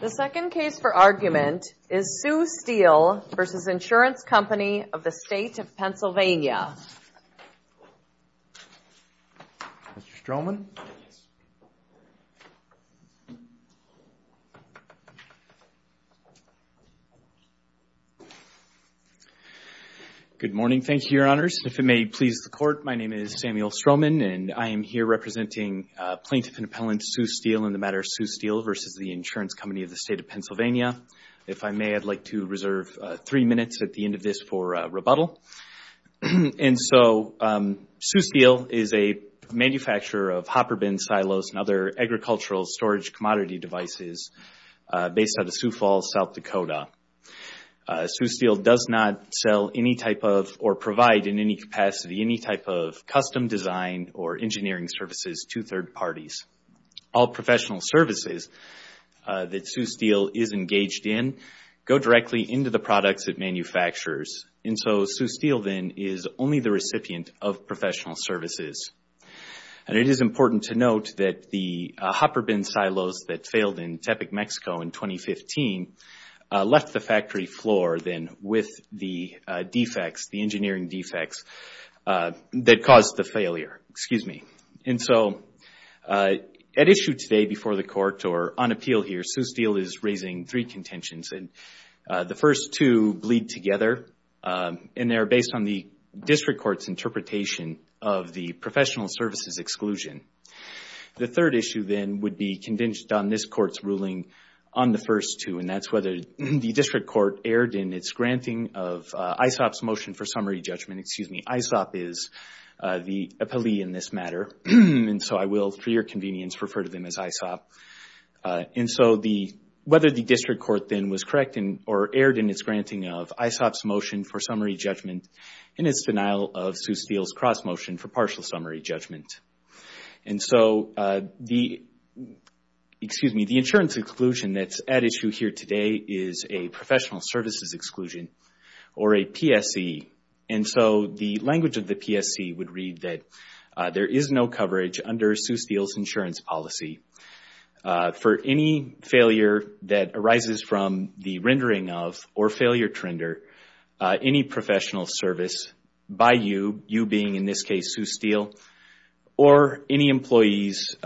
The second case for argument is Sioux Steel v. Ins. Co. of the State of PA Good morning. Thank you, Your Honors. If it may please the Court, my name is Samuel Stroman and I am here representing plaintiff-appellant Sioux Steel in the matter of Sioux Steel v. Ins. Co. of the State of PA If I may, I'd like to reserve three minutes at the end of this for rebuttal. Sioux Steel is a manufacturer of hopper bin silos and other agricultural storage commodity devices based out of Sioux Falls, South Dakota. Sioux Steel does not sell any type of or provide in any capacity any type of custom design or engineering services to third parties. All professional services that Sioux Steel is engaged in go directly into the products it manufactures. And so Sioux Steel, then, is only the recipient of professional services. And it is important to note that the hopper bin silos that failed in Tepic, Mexico in 2015 left the factory floor, then, with the engineering defects that caused the failure. At issue today before the Court, or on appeal here, Sioux Steel is raising three contentions. The first two bleed together and they are based on the District Court's interpretation of the professional services exclusion. The third issue, then, would be contingent on this Court's ruling on the first two, and that's whether the District Court erred in its granting of ISOP's motion for summary judgment. ISOP is the appellee in this matter. And so I will, for your convenience, refer to them as ISOP. Whether the District Court, then, was correct or erred in its granting of ISOP's motion for summary judgment in its denial of Sioux Steel's cross-motion for partial summary judgment. The insurance exclusion that's at issue here today is a professional services exclusion, or a PSC. And so the language of the PSC would read that there is no coverage under Sioux Steel's insurance policy for any failure that arises from the rendering of, or failure to render, any professional service by you, you being, in this case, Sioux Steel, or any employees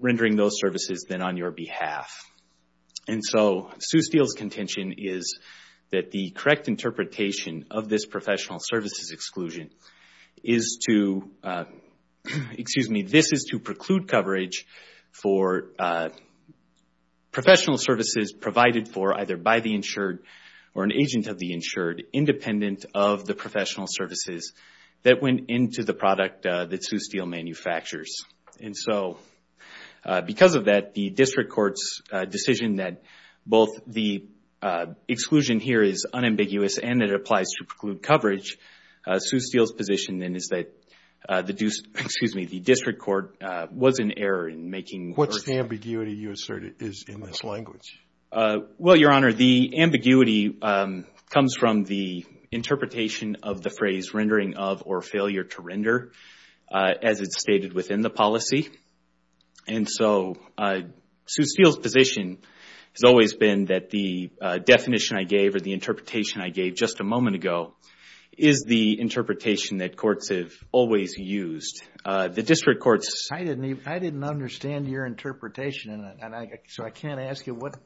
rendering those services, then, on your behalf. And so Sioux Steel's contention is that the correct interpretation of this professional services exclusion is to, excuse me, this is to preclude coverage for professional services provided for either by the insured or an agent of the insured, independent of the professional services that went into the product that Sioux Steel manufactures. And so, because of that, the district court's decision that both the exclusion here is unambiguous and it applies to preclude coverage, Sioux Steel's position then is that the district court was in error in making What's the ambiguity you assert is in this language? Well, Your Honor, the ambiguity comes from the interpretation of the phrase rendering of, or failure to render, as it's stated within the policy. And so, Sioux Steel's position has always been that the definition I gave or the interpretation I gave just a moment ago is the interpretation that courts have always used. The district court's... I didn't understand your interpretation, so I can't ask you what...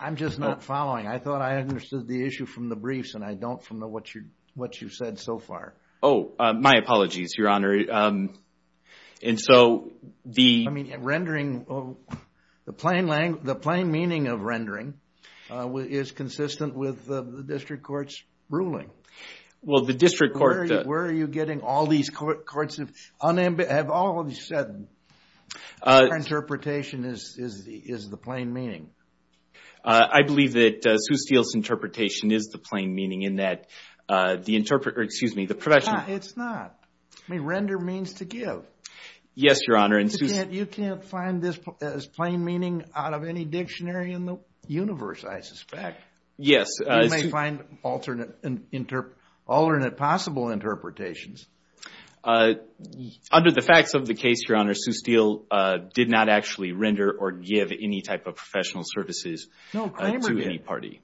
I'm just not following. I thought I understood the issue from the briefs and I don't from what you've said so far. Oh, my apologies, Your Honor. I mean, rendering... The plain meaning of rendering is consistent with the district court's ruling. Well, the district court... Where are you getting all these courts... Have all of you said your interpretation is the plain meaning? I believe that Sioux Steel's interpretation is the plain meaning in that the interpreter... Excuse me, the professional... It's not. I mean, render means to give. Yes, Your Honor, and Sioux... You can't find this as plain meaning out of any dictionary in the universe, I suspect. Yes. You may find alternate possible interpretations. Under the facts of the case, Your Honor, Sioux Steel did not actually render or give any type of professional services to any party.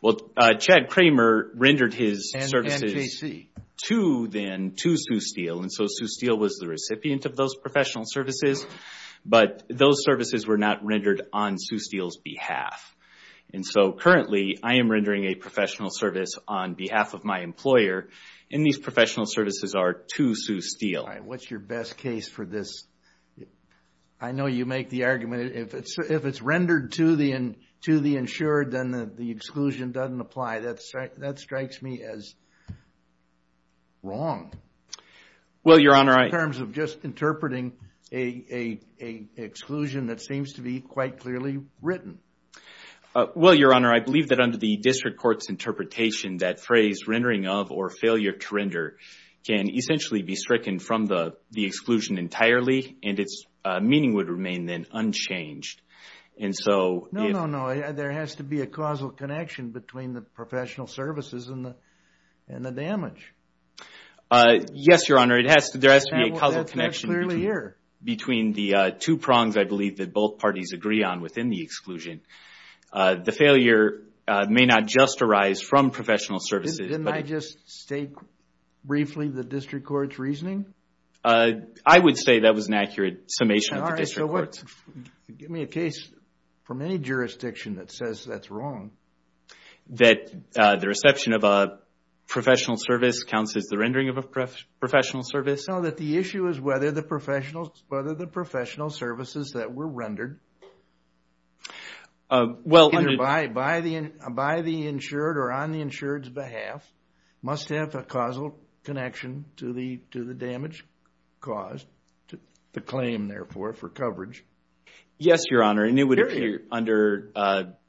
Well, Chad Kramer rendered his services to Sioux Steel, and so Sioux Steel was the recipient of those professional services, but those services were not rendered on Sioux Steel's behalf. And so currently, I am rendering a professional service on behalf of my employer, and these professional services are to Sioux Steel. All right, what's your best case for this? I know you make the argument, if it's rendered to the insured, then the exclusion doesn't apply. That strikes me as wrong... Well, Your Honor, I... ...in terms of just interpreting an exclusion that seems to be quite clearly written. Well, Your Honor, I believe that under the district court's interpretation, that phrase, rendering of or failure to render, can essentially be stricken from the exclusion entirely, and its meaning would remain then unchanged. And so... No, no, no, there has to be a causal connection between the professional services and the damage. Yes, Your Honor, there has to be a causal connection... Between the two prongs, I believe, that both parties agree on within the exclusion. The failure may not just arise from professional services... Didn't I just state briefly the district court's reasoning? I would say that was an accurate summation of the district court's. All right, so what... Give me a case from any jurisdiction that says that's wrong. That the reception of a professional service counts as the rendering of a professional service? No, that the issue is whether the professional services that were rendered... Well... ...by the insured or on the insured's behalf must have a causal connection to the damage caused, the claim, therefore, for coverage. Yes, Your Honor, and it would appear under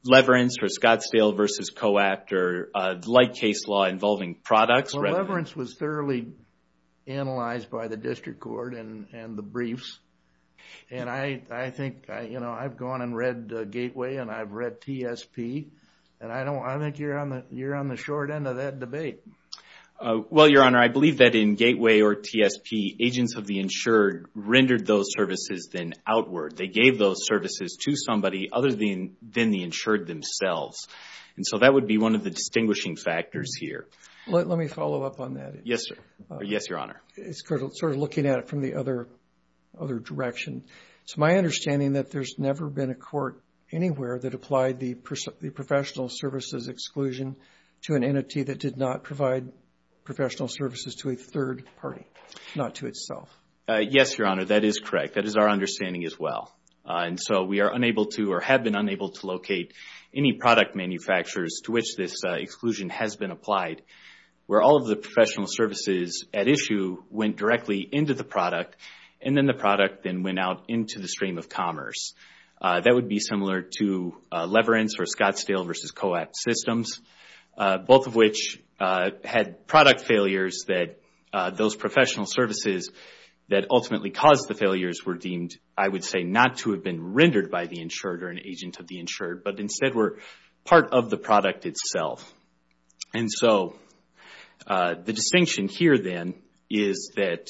leverance or Scottsdale v. Co-Act or like case law involving products... Well, leverance was thoroughly analyzed by the district court and the briefs, and I think I've gone and read Gateway and I've read TSP, and I think you're on the short end of that debate. Well, Your Honor, I believe that in Gateway or TSP, agents of the insured rendered those services then outward. They gave those services to somebody other than the insured themselves, and so that would be one of the distinguishing factors here. Let me follow up on that. Yes, Your Honor. It's sort of looking at it from the other direction. It's my understanding that there's never been a court anywhere that applied the professional services exclusion to an entity that did not provide professional services to a third party, not to itself. Yes, Your Honor, that is correct. That is our understanding as well. And so we are unable to or have been unable to locate any product manufacturers to which this exclusion has been applied where all of the professional services at issue went directly into the product and then the product then went out into the stream of commerce. That would be similar to leverance or Scottsdale versus Co-Act systems, both of which had product failures that those professional services that ultimately caused the failures were deemed, I would say, not to have been rendered by the insured or an agent of the insured, but instead were part of the product itself. And so the distinction here then is that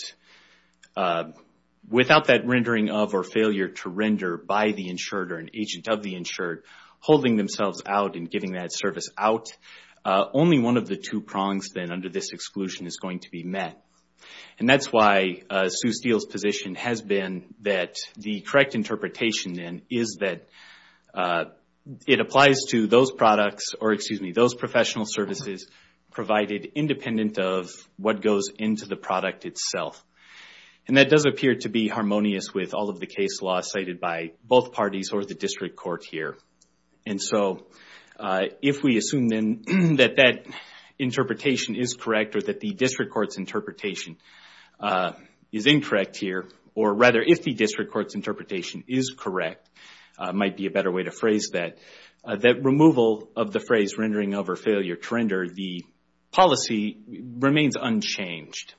without that rendering of or failure to render by the insured or an agent of the insured holding themselves out and giving that service out, only one of the two prongs then under this exclusion is going to be met. And that's why Sue Steele's position has been that the correct interpretation then is that it applies to those products or, excuse me, those professional services provided independent of what goes into the product itself. And that does appear to be harmonious with all of the case law cited by both parties or the district court here. And so if we assume then that that interpretation is correct or that the district court's interpretation is incorrect here, or rather if the district court's interpretation is correct, might be a better way to phrase that, that removal of the phrase rendering of or failure to render, the policy remains unchanged.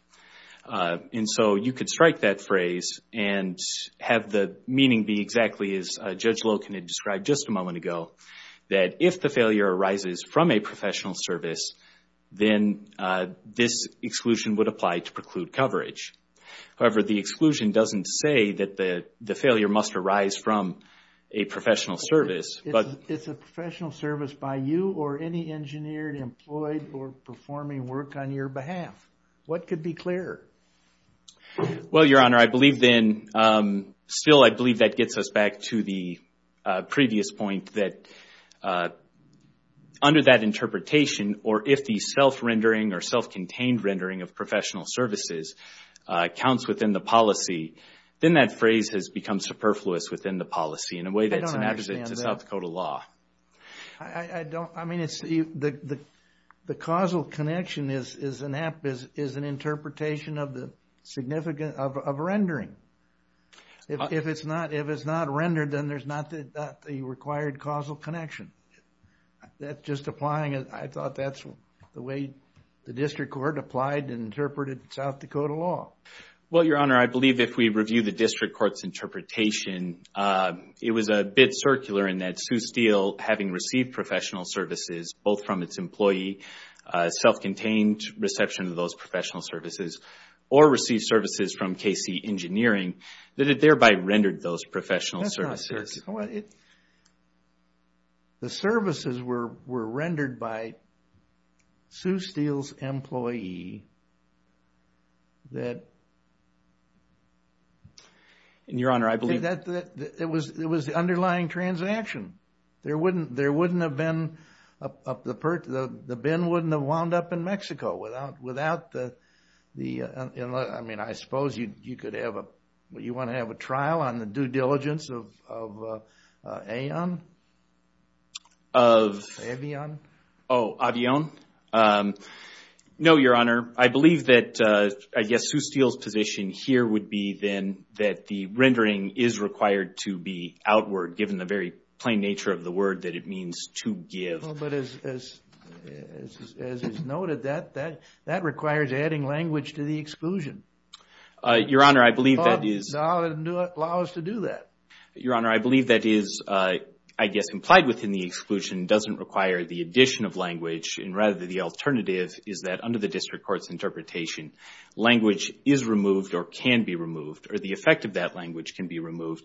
And so you could strike that phrase and have the meaning be exactly as Judge Loken had described just a moment ago, that if the failure arises from a professional service, then this exclusion would apply to preclude coverage. However, the exclusion doesn't say that the failure must arise from a professional service. It's a professional service by you or any engineered, employed, or performing work on your behalf. What could be clearer? Well, Your Honor, I believe then, still I believe that gets us back to the previous point that under that interpretation, or if the self-rendering or self-contained rendering of professional services counts within the policy, then that phrase has become superfluous within the policy in a way that's inadequate to South Dakota law. The causal connection is an interpretation of the rendering. If it's not rendered, then there's not the required causal connection. Just applying it, I thought that's the way the District Court applied and interpreted South Dakota law. Well, Your Honor, I believe if we review the District Court's interpretation, it was a bit circular in that Sioux Steel, having received professional services both from its employee, self-contained reception of those professional services, or received services from KC Engineering, that it thereby rendered those professional services. The services were rendered by Sioux Steel's employee that Your Honor, I believe it was the underlying transaction. There wouldn't have been the bin wouldn't have wound up in Mexico without the I suppose you want to have a trial on the due diligence of Avion? Oh, Avion? No, Your Honor. I believe that Sioux Steel's position here would be then that the rendering is required to be outward, given the very plain nature of the word that it means to give. But as it's noted, that requires adding language to the exclusion. Your Honor, I believe that is Your Honor, I believe that is I guess implied within the exclusion doesn't require the addition of language, and rather the alternative is that under the District Court's interpretation, language is removed or can be removed, or the effect of that language can be removed,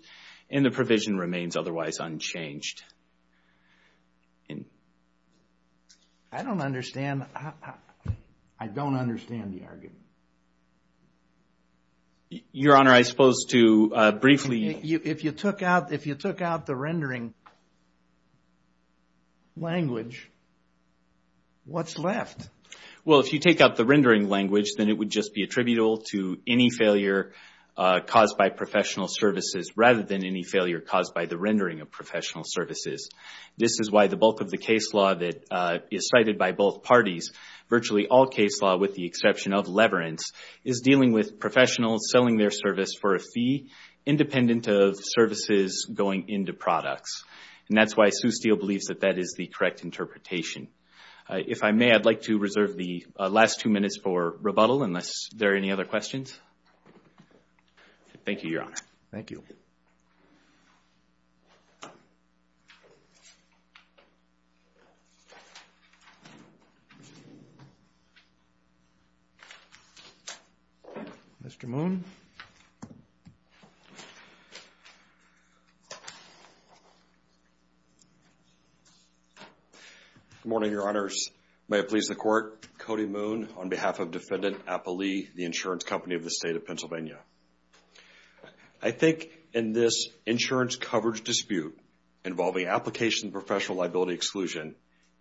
and the provision remains otherwise unchanged. I don't understand I don't understand the argument. Your Honor, I suppose to briefly... If you took out the rendering language, what's left? Well, if you take out the rendering language, then it would just be attributable to any failure caused by professional services rather than any failure caused by the rendering of professional services. This is why the bulk of the case law that is cited by both parties, virtually all case law with the exception of leverance, is dealing with professionals selling their service for a fee, independent of services going into products. And that's why Sioux Steel believes that that is the correct interpretation. If I may, I'd like to reserve the last two minutes for rebuttal unless there are any other questions. Thank you, Your Honor. Thank you. Mr. Moon. Good morning, Your Honors. May it please the Court, Cody Moon on behalf of Defendant Appali, the insurance company of the state of Pennsylvania. I think in this insurance coverage dispute involving application professional liability exclusion,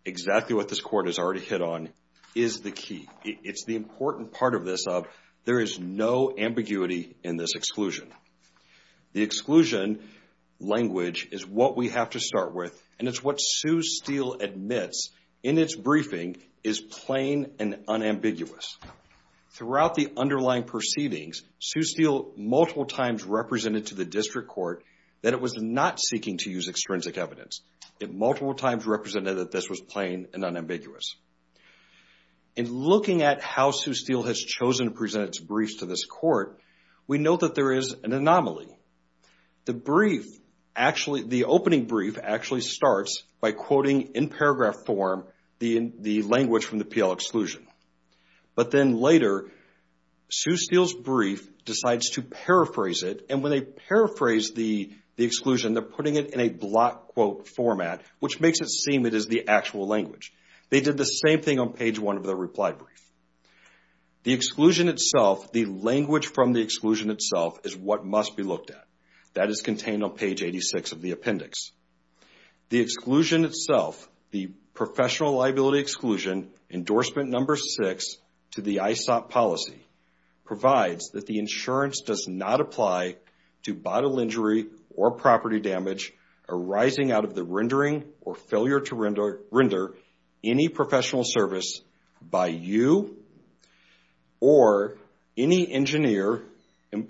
exactly what this Court has already hit on is the key. It's the important part of this of there is no ambiguity in this exclusion. The exclusion language is what we have to start with, and it's what Sioux Steel admits in its briefing is plain and unambiguous. Throughout the underlying proceedings, Sioux Steel multiple times represented to the District Court that it was not seeking to use extrinsic evidence. It multiple times represented that this was plain and unambiguous. In looking at how Sioux Steel has chosen to present its briefs to this Court, we know that there is an anomaly. The opening brief actually starts by quoting in paragraph form the language from the PL exclusion. But then later, Sioux Steel's brief decides to paraphrase it, and when they paraphrase the exclusion, they're putting it in a block quote format, which makes it seem it is the actual language. They did the same thing on page one of the reply brief. The exclusion itself, the language from the exclusion itself is what must be looked at. That is contained on page 86 of the appendix. The exclusion itself, the professional liability exclusion, endorsement number six to the ISOP policy, provides that the insurance does not apply to bottle injury or property damage arising out of the rendering or failure to render any professional service by you or any engineer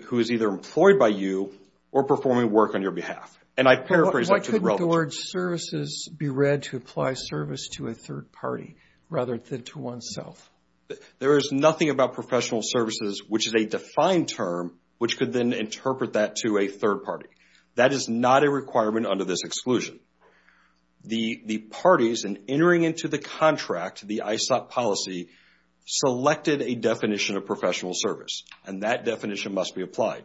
who is either employed by you or performing work on your behalf. And I paraphrase that. Why couldn't the word services be read to apply service to a third party rather than to oneself? There is nothing about professional services, which is a defined term, which could then interpret that to a third party. That is not a requirement under this exclusion. The parties, in entering into the contract, the ISOP policy, selected a definition of professional service, and that definition must be applied.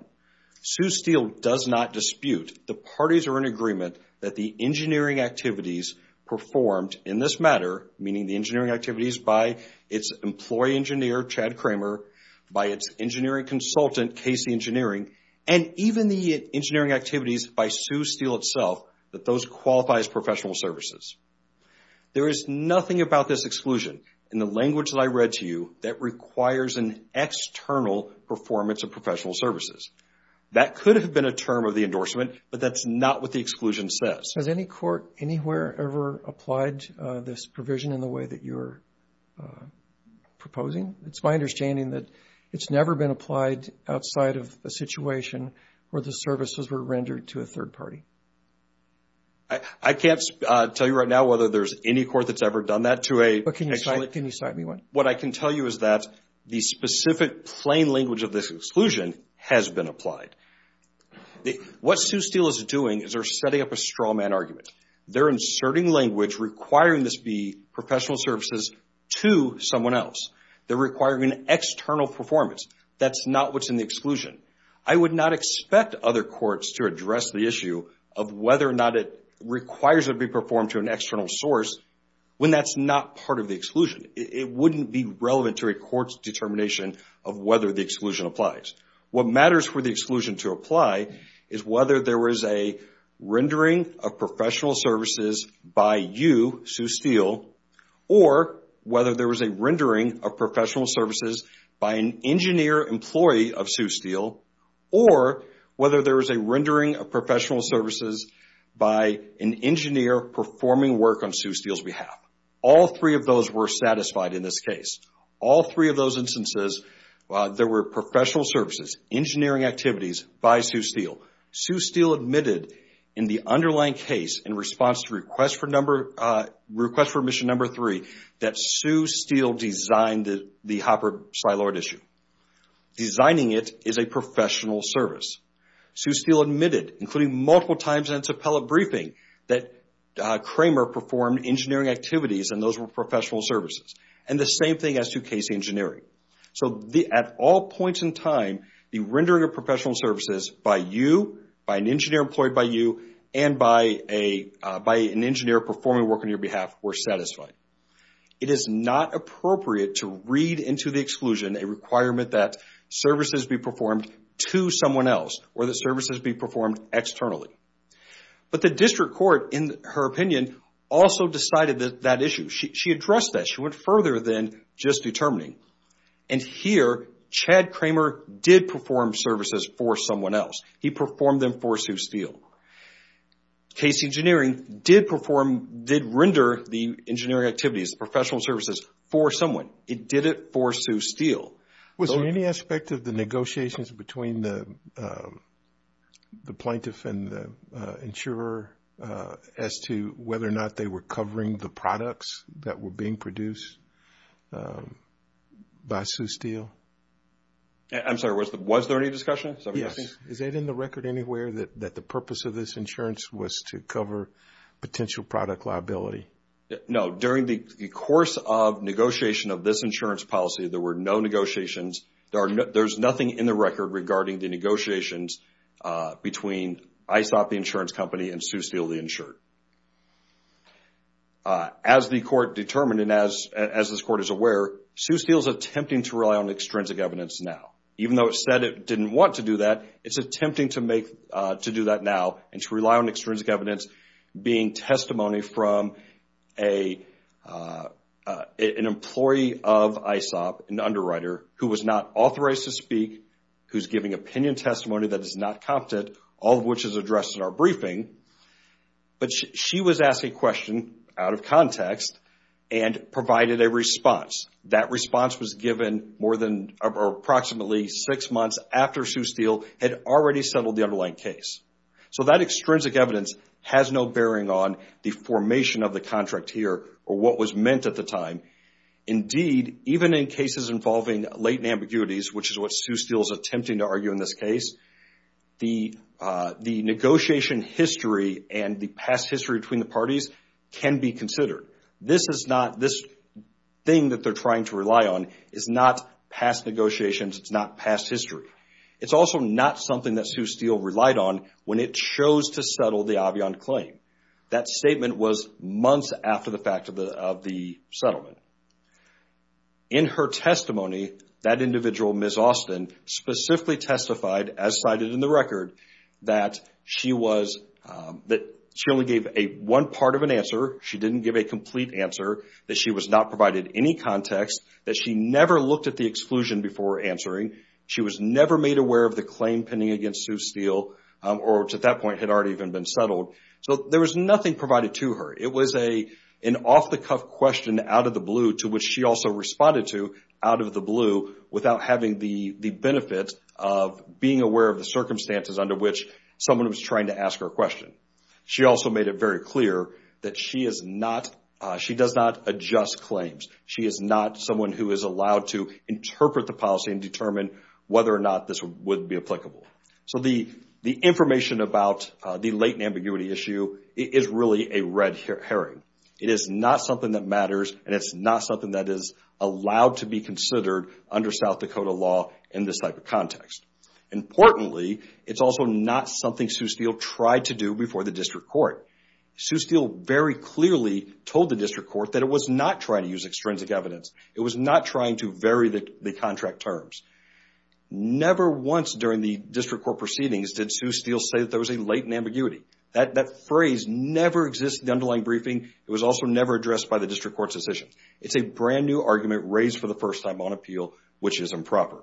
Sue Steele does not dispute the parties are in agreement that the engineering activities performed in this matter, meaning the engineering activities by its employee engineer, Chad Kramer, by its engineering consultant, Casey Engineering, and even the engineering activities by Sue Steele itself, that those qualify as professional services. There is nothing about this exclusion in the language that I read to you that requires an external performance of professional services. That could have been a term of the endorsement, but that's not what the exclusion says. Has any court anywhere ever applied this provision in the way that you're proposing? It's my understanding that it's never been applied outside of a situation where the services were rendered to a third party. I can't tell you right now whether there's any court that's ever done that to a... Can you cite me one? What I can tell you is that the specific plain language of this exclusion has been applied. What Sue Steele is doing is they're setting up a straw man argument. They're inserting language requiring this be professional services to someone else. They're requiring an external performance. That's not what's in the exclusion. I would not expect other courts to address the issue of whether or not it requires it to be performed to an external source when that's not part of the exclusion. It wouldn't be relevant to a court's determination of whether the exclusion applies. What matters for the exclusion to apply is whether there was a rendering of professional services by you, Sue Steele, or whether there was a rendering of professional services by an engineer employee of Sue Steele, or whether there was a rendering of professional services by an engineer performing work on Sue Steele's behalf. All three of those were satisfied in this case. All three of those instances, there were professional services, engineering activities by Sue Steele. Sue Steele admitted in the underlying case in response to request for mission number three that Sue Steele designed the Hopper-Sylord issue. Designing it is a professional service. Sue Steele admitted, including multiple times in its appellate briefing, that Kramer performed engineering activities and those were professional services. The same thing as to Casey Engineering. At all points in time, the rendering of professional services by you, by an engineer employed by you, and by an engineer performing work on your behalf were satisfied. It is not appropriate to read into the exclusion a requirement that services be performed to someone else or that services be performed externally. The district court, in her opinion, also decided that issue. She addressed that. She went further than just determining. Here, Chad Kramer did perform services for someone else. He performed them for Sue Steele. Casey Engineering did render the engineering activities, the professional services for someone. It did it for Sue Steele. Was there any aspect of the negotiations between the plaintiff and the insurer as to whether or not they were covering the products that were being produced by Sue Steele? I'm sorry. Was there any discussion? Yes. Is it in the record anywhere that the purpose of this insurance was to cover potential product liability? No. During the course of negotiation of this insurance policy, there were no negotiations. There's nothing in the record regarding the negotiations between ISOP, the insurance company, and Sue Steele, the insurer. As the court determined and as this court is aware, Sue Steele is attempting to rely on extrinsic evidence now. Even though it said it didn't want to do that, it's attempting to do that now and to rely on extrinsic evidence being testimony from an employee of ISOP, an underwriter, who was not authorized to speak, who's giving opinion testimony that is not competent, all of which is addressed in our briefing. She was asked a question out of context and provided a response. That response was given approximately six months after Sue Steele had already settled the underlying case. That extrinsic evidence has no bearing on the formation of the contract here or what was meant at the time. Indeed, even in cases involving latent ambiguities, which is what Sue Steele is attempting to argue in this case, the negotiation history and the past history between the parties can be considered. This thing that they're trying to rely on is not past negotiations. It's not past history. It's also not something that Sue Steele relied on when it chose to settle the Avion claim. That statement was months after the fact of the settlement. In her testimony, that individual, Ms. Austin, specifically testified, as cited in the record, that she only gave one part of an answer. She didn't give a complete answer, that she was not provided any context, that she never looked at the exclusion before answering. She was never made aware of the claim pending against Sue Steele, which at that point had already been settled. There was nothing provided to her. It was an off-the-cuff question out of the blue, to which she also responded to out of the blue without having the benefit of being aware of the circumstances under which someone was trying to ask her a question. She also made it very clear that she does not adjust claims. She is not someone who is allowed to interpret the policy and determine whether or not this would be applicable. The information about the latent ambiguity issue is really a red herring. It is not something that matters, and it's not something that is allowed to be considered under South Dakota law in this type of context. Importantly, it's also not something Sue Steele tried to do before the district court. Sue Steele very clearly told the district court that it was not trying to use extrinsic evidence. It was not trying to vary the contract terms. Never once during the district court proceedings did Sue Steele say that there was a latent ambiguity. That phrase never exists in the underlying briefing. It was also never addressed by the district court's decision. It's a brand new argument raised for the first time on appeal, which is improper.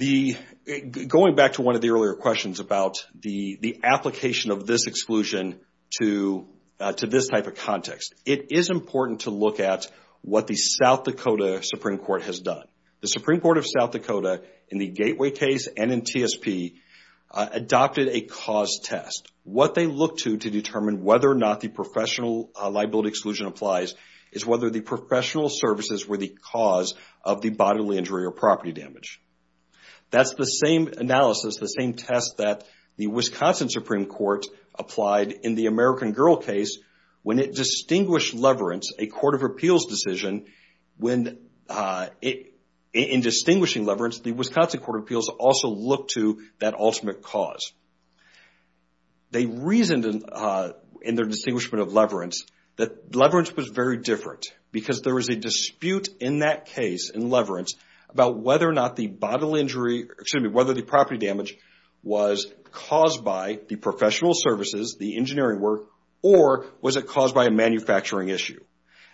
Going back to one of the earlier questions about the application of this exclusion to this type of context, it is important to look at what the South Dakota Supreme Court has done. The Supreme Court of South Dakota in the Gateway case and in TSP adopted a cause test. What they looked to determine whether or not the professional liability exclusion applies is whether the professional services were the cause of the bodily injury or property damage. That's the same analysis, the same test that the Wisconsin Supreme Court applied in the American Girl case when it distinguished leverance, a court of appeals decision. In distinguishing leverance, the Wisconsin Court of Appeals also looked to that ultimate cause. They reasoned in their distinguishment of leverance that leverance was very different because there was a dispute in that case in leverance about whether or not the property damage was caused by the professional services, the engineering work, or was it caused by a manufacturing issue.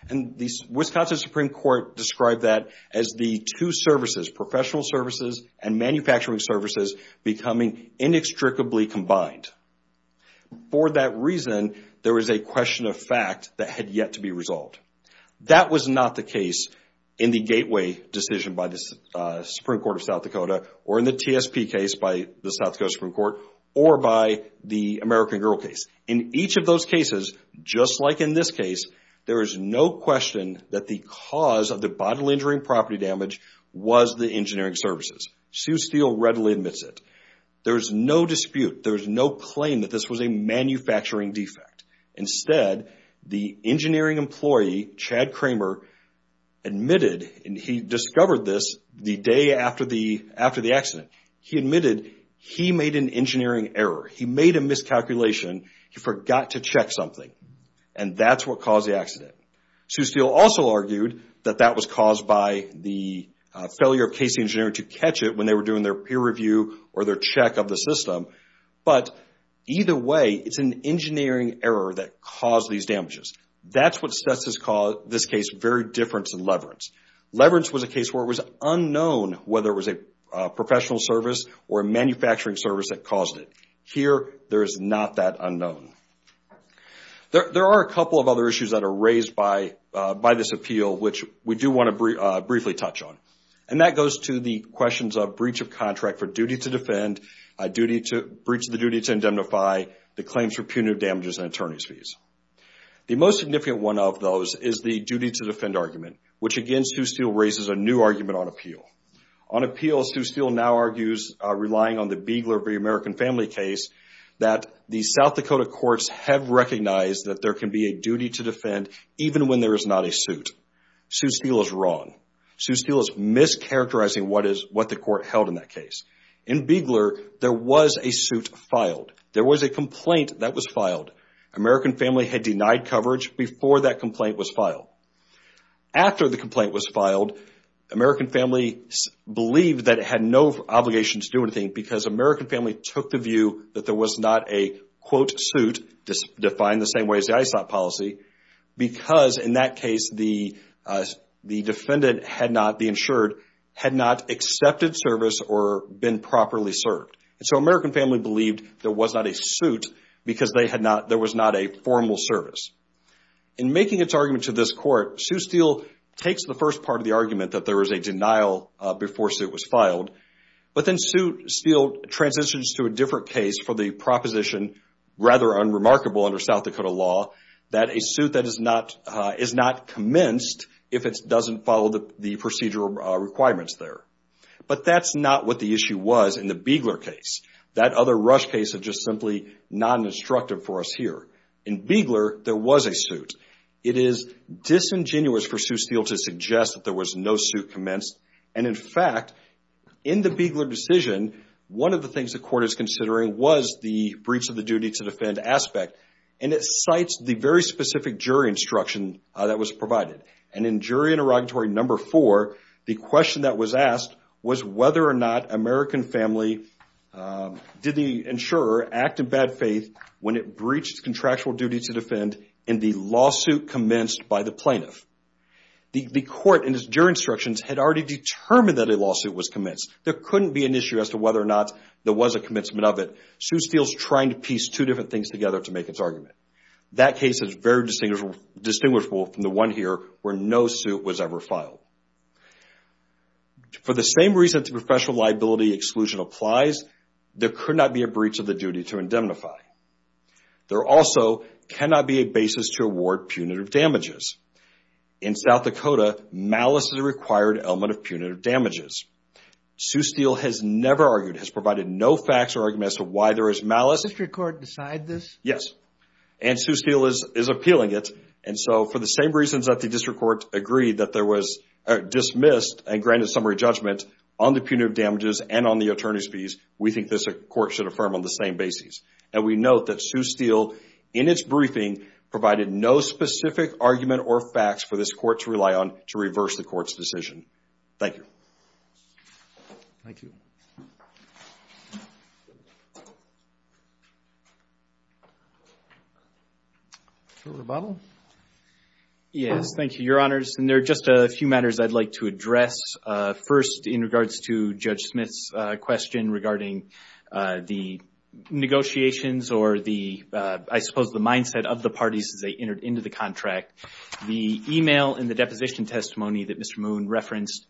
The Wisconsin Supreme Court described that as the two services, professional services and manufacturing services becoming inextricably combined. For that reason, there was a question of fact that had yet to be resolved. That was not the case in the Gateway decision by the Supreme Court of South Dakota or in the TSP case by the South Dakota Supreme Court or by the American Girl case. In each of those cases, just like in this case, there is no question that the cause of the bodily injury and property damage was the engineering services. Sue Steele readily admits it. There's no dispute. There's no claim that this was a manufacturing defect. Instead, the engineering employee, Chad Kramer, admitted, and he discovered this the day after the accident. He admitted he made an engineering error. He made a miscalculation. He forgot to check something. That's what caused the accident. Sue Steele also argued that that was caused by the failure of Casey Engineering to catch it when they were doing their peer review or their check of the system. Either way, it's an engineering error that caused these damages. That's what sets this case very different to Leverance. Leverance was a case where it was unknown whether it was a professional service or a manufacturing service that caused it. Here, there is not that unknown. There are a couple of other issues that are raised by this appeal, which we do want to briefly touch on. That goes to the questions of breach of contract for duty to defend, breach of the duty to indemnify, the claims for punitive damages and attorney's fees. The most significant one of those is the duty to defend argument, which again, Sue Steele raises a new argument on appeal. On appeal, Sue Steele now argues relying on the Beigler v. American Family case that the South Dakota courts have recognized that there can be a duty to defend even when there is not a suit. Sue Steele is wrong. Sue Steele is mischaracterizing what the court held in that case. In Beigler, there was a suit filed. There was a complaint that was filed. American Family had denied coverage before that complaint was filed. After the complaint was filed, American Family believed that it had no obligation to do anything because American Family took the view that there was not a, quote, suit defined the same way as the policy because in that case the defendant had not, the insured, had not accepted service or been properly served. So American Family believed there was not a suit because there was not a formal service. In making its argument to this court, Sue Steele takes the first part of the argument that there was a denial before suit was filed, but then Sue Steele transitions to a different case for the proposition rather unremarkable under South Dakota law that a suit that is not commenced if it doesn't follow the procedural requirements there. But that's not what the issue was in the Beigler case. That other rush case is just simply non-destructive for us here. In Beigler, there was a suit. It is disingenuous for Sue Steele to suggest that there was no suit commenced and in fact, in the Beigler decision, one of the things the court is considering was the breach of the duty to defend aspect and it cites the very specific jury instruction that was provided. And in jury interrogatory number four, the question that was asked was whether or not American Family did the insurer act in bad faith when it breached contractual duty to defend in the lawsuit commenced by the plaintiff. The court in its jury instructions had already determined that a lawsuit was commenced. There couldn't be an issue as to whether or not there was a commencement of it. Sue Steele is trying to piece two different things together to make its argument. That case is very distinguishable from the one here where no suit was ever filed. For the same reason that the professional liability exclusion applies, there could not be a breach of the duty to indemnify. There also cannot be a basis to award punitive damages. In South Dakota, malice is a required element of punitive damages. Sue Steele has never argued, has provided no facts or arguments as to why there is malice. Yes. And Sue Steele is appealing it. And so for the same reasons that the district court agreed that there was dismissed and granted summary judgment on the punitive damages and on the attorney's fees, we think this court should affirm on the same basis. And we note that Sue Steele, in its briefing, provided no specific argument or facts for this court to rely on to reverse the court's decision. Thank you. Thank you. Yes. Thank you, Your Honors. And there are just a few matters I'd like to address. First, in regards to Judge Smith's question regarding the negotiations or the, I suppose, the mindset of the parties as they entered into the contract, the email and the deposition testimony that Mr. Moon referenced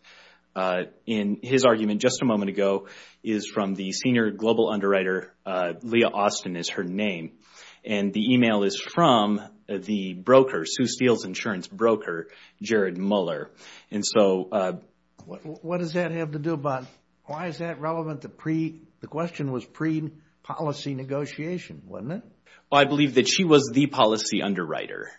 in his argument just a moment ago is from the senior global underwriter, Leah Austin is her name. And the email is from the broker, Sue Steele's insurance broker, Jared Muller. And so What does that have to do about, why is that relevant? The question was pre-policy negotiation, wasn't it? Well, I believe that she was the policy underwriter.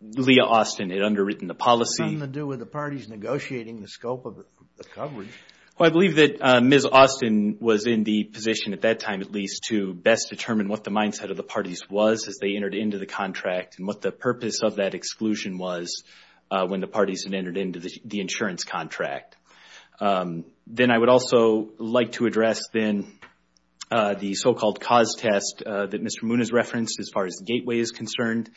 Leah Austin had underwritten the policy. What does that have to do with the parties negotiating the scope of the coverage? Well, I believe that Ms. Austin was in the position at that time, at least, to best determine what the mindset of the parties was as they entered into the contract and what the purpose of that exclusion was when the parties had entered into the insurance contract. Then I would also like to address then the so-called cause test that Mr. Moon has referenced as far as Gateway is concerned.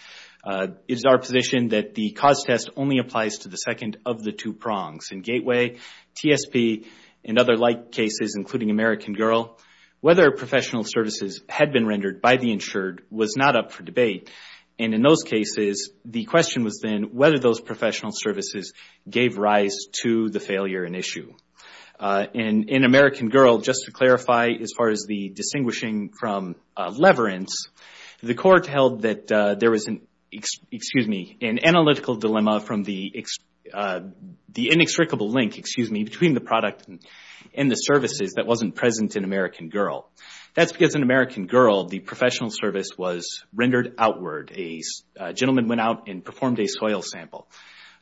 It is our position that the cause test only applies to the second of the two prongs in Gateway, TSP and other like cases including American Girl. Whether professional services had been rendered by the insured was not up for debate. And in those cases the question was then whether those professional services gave rise to the failure in issue. In American Girl, just to clarify as far as the distinguishing from Leverance, the court held that there was an analytical dilemma from the inextricable link between the product and the services that wasn't present in American Girl. That's because in American Girl the professional service was rendered outward. A gentleman went out and performed a soil sample.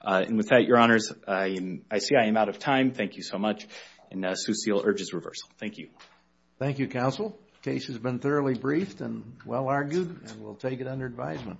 And with that, Your Honors, I see I am out of time. Thank you so much. And Sue Seal urges reversal. Thank you. Thank you, Counsel. The case has been thoroughly briefed and well argued. And we'll take it under advisement.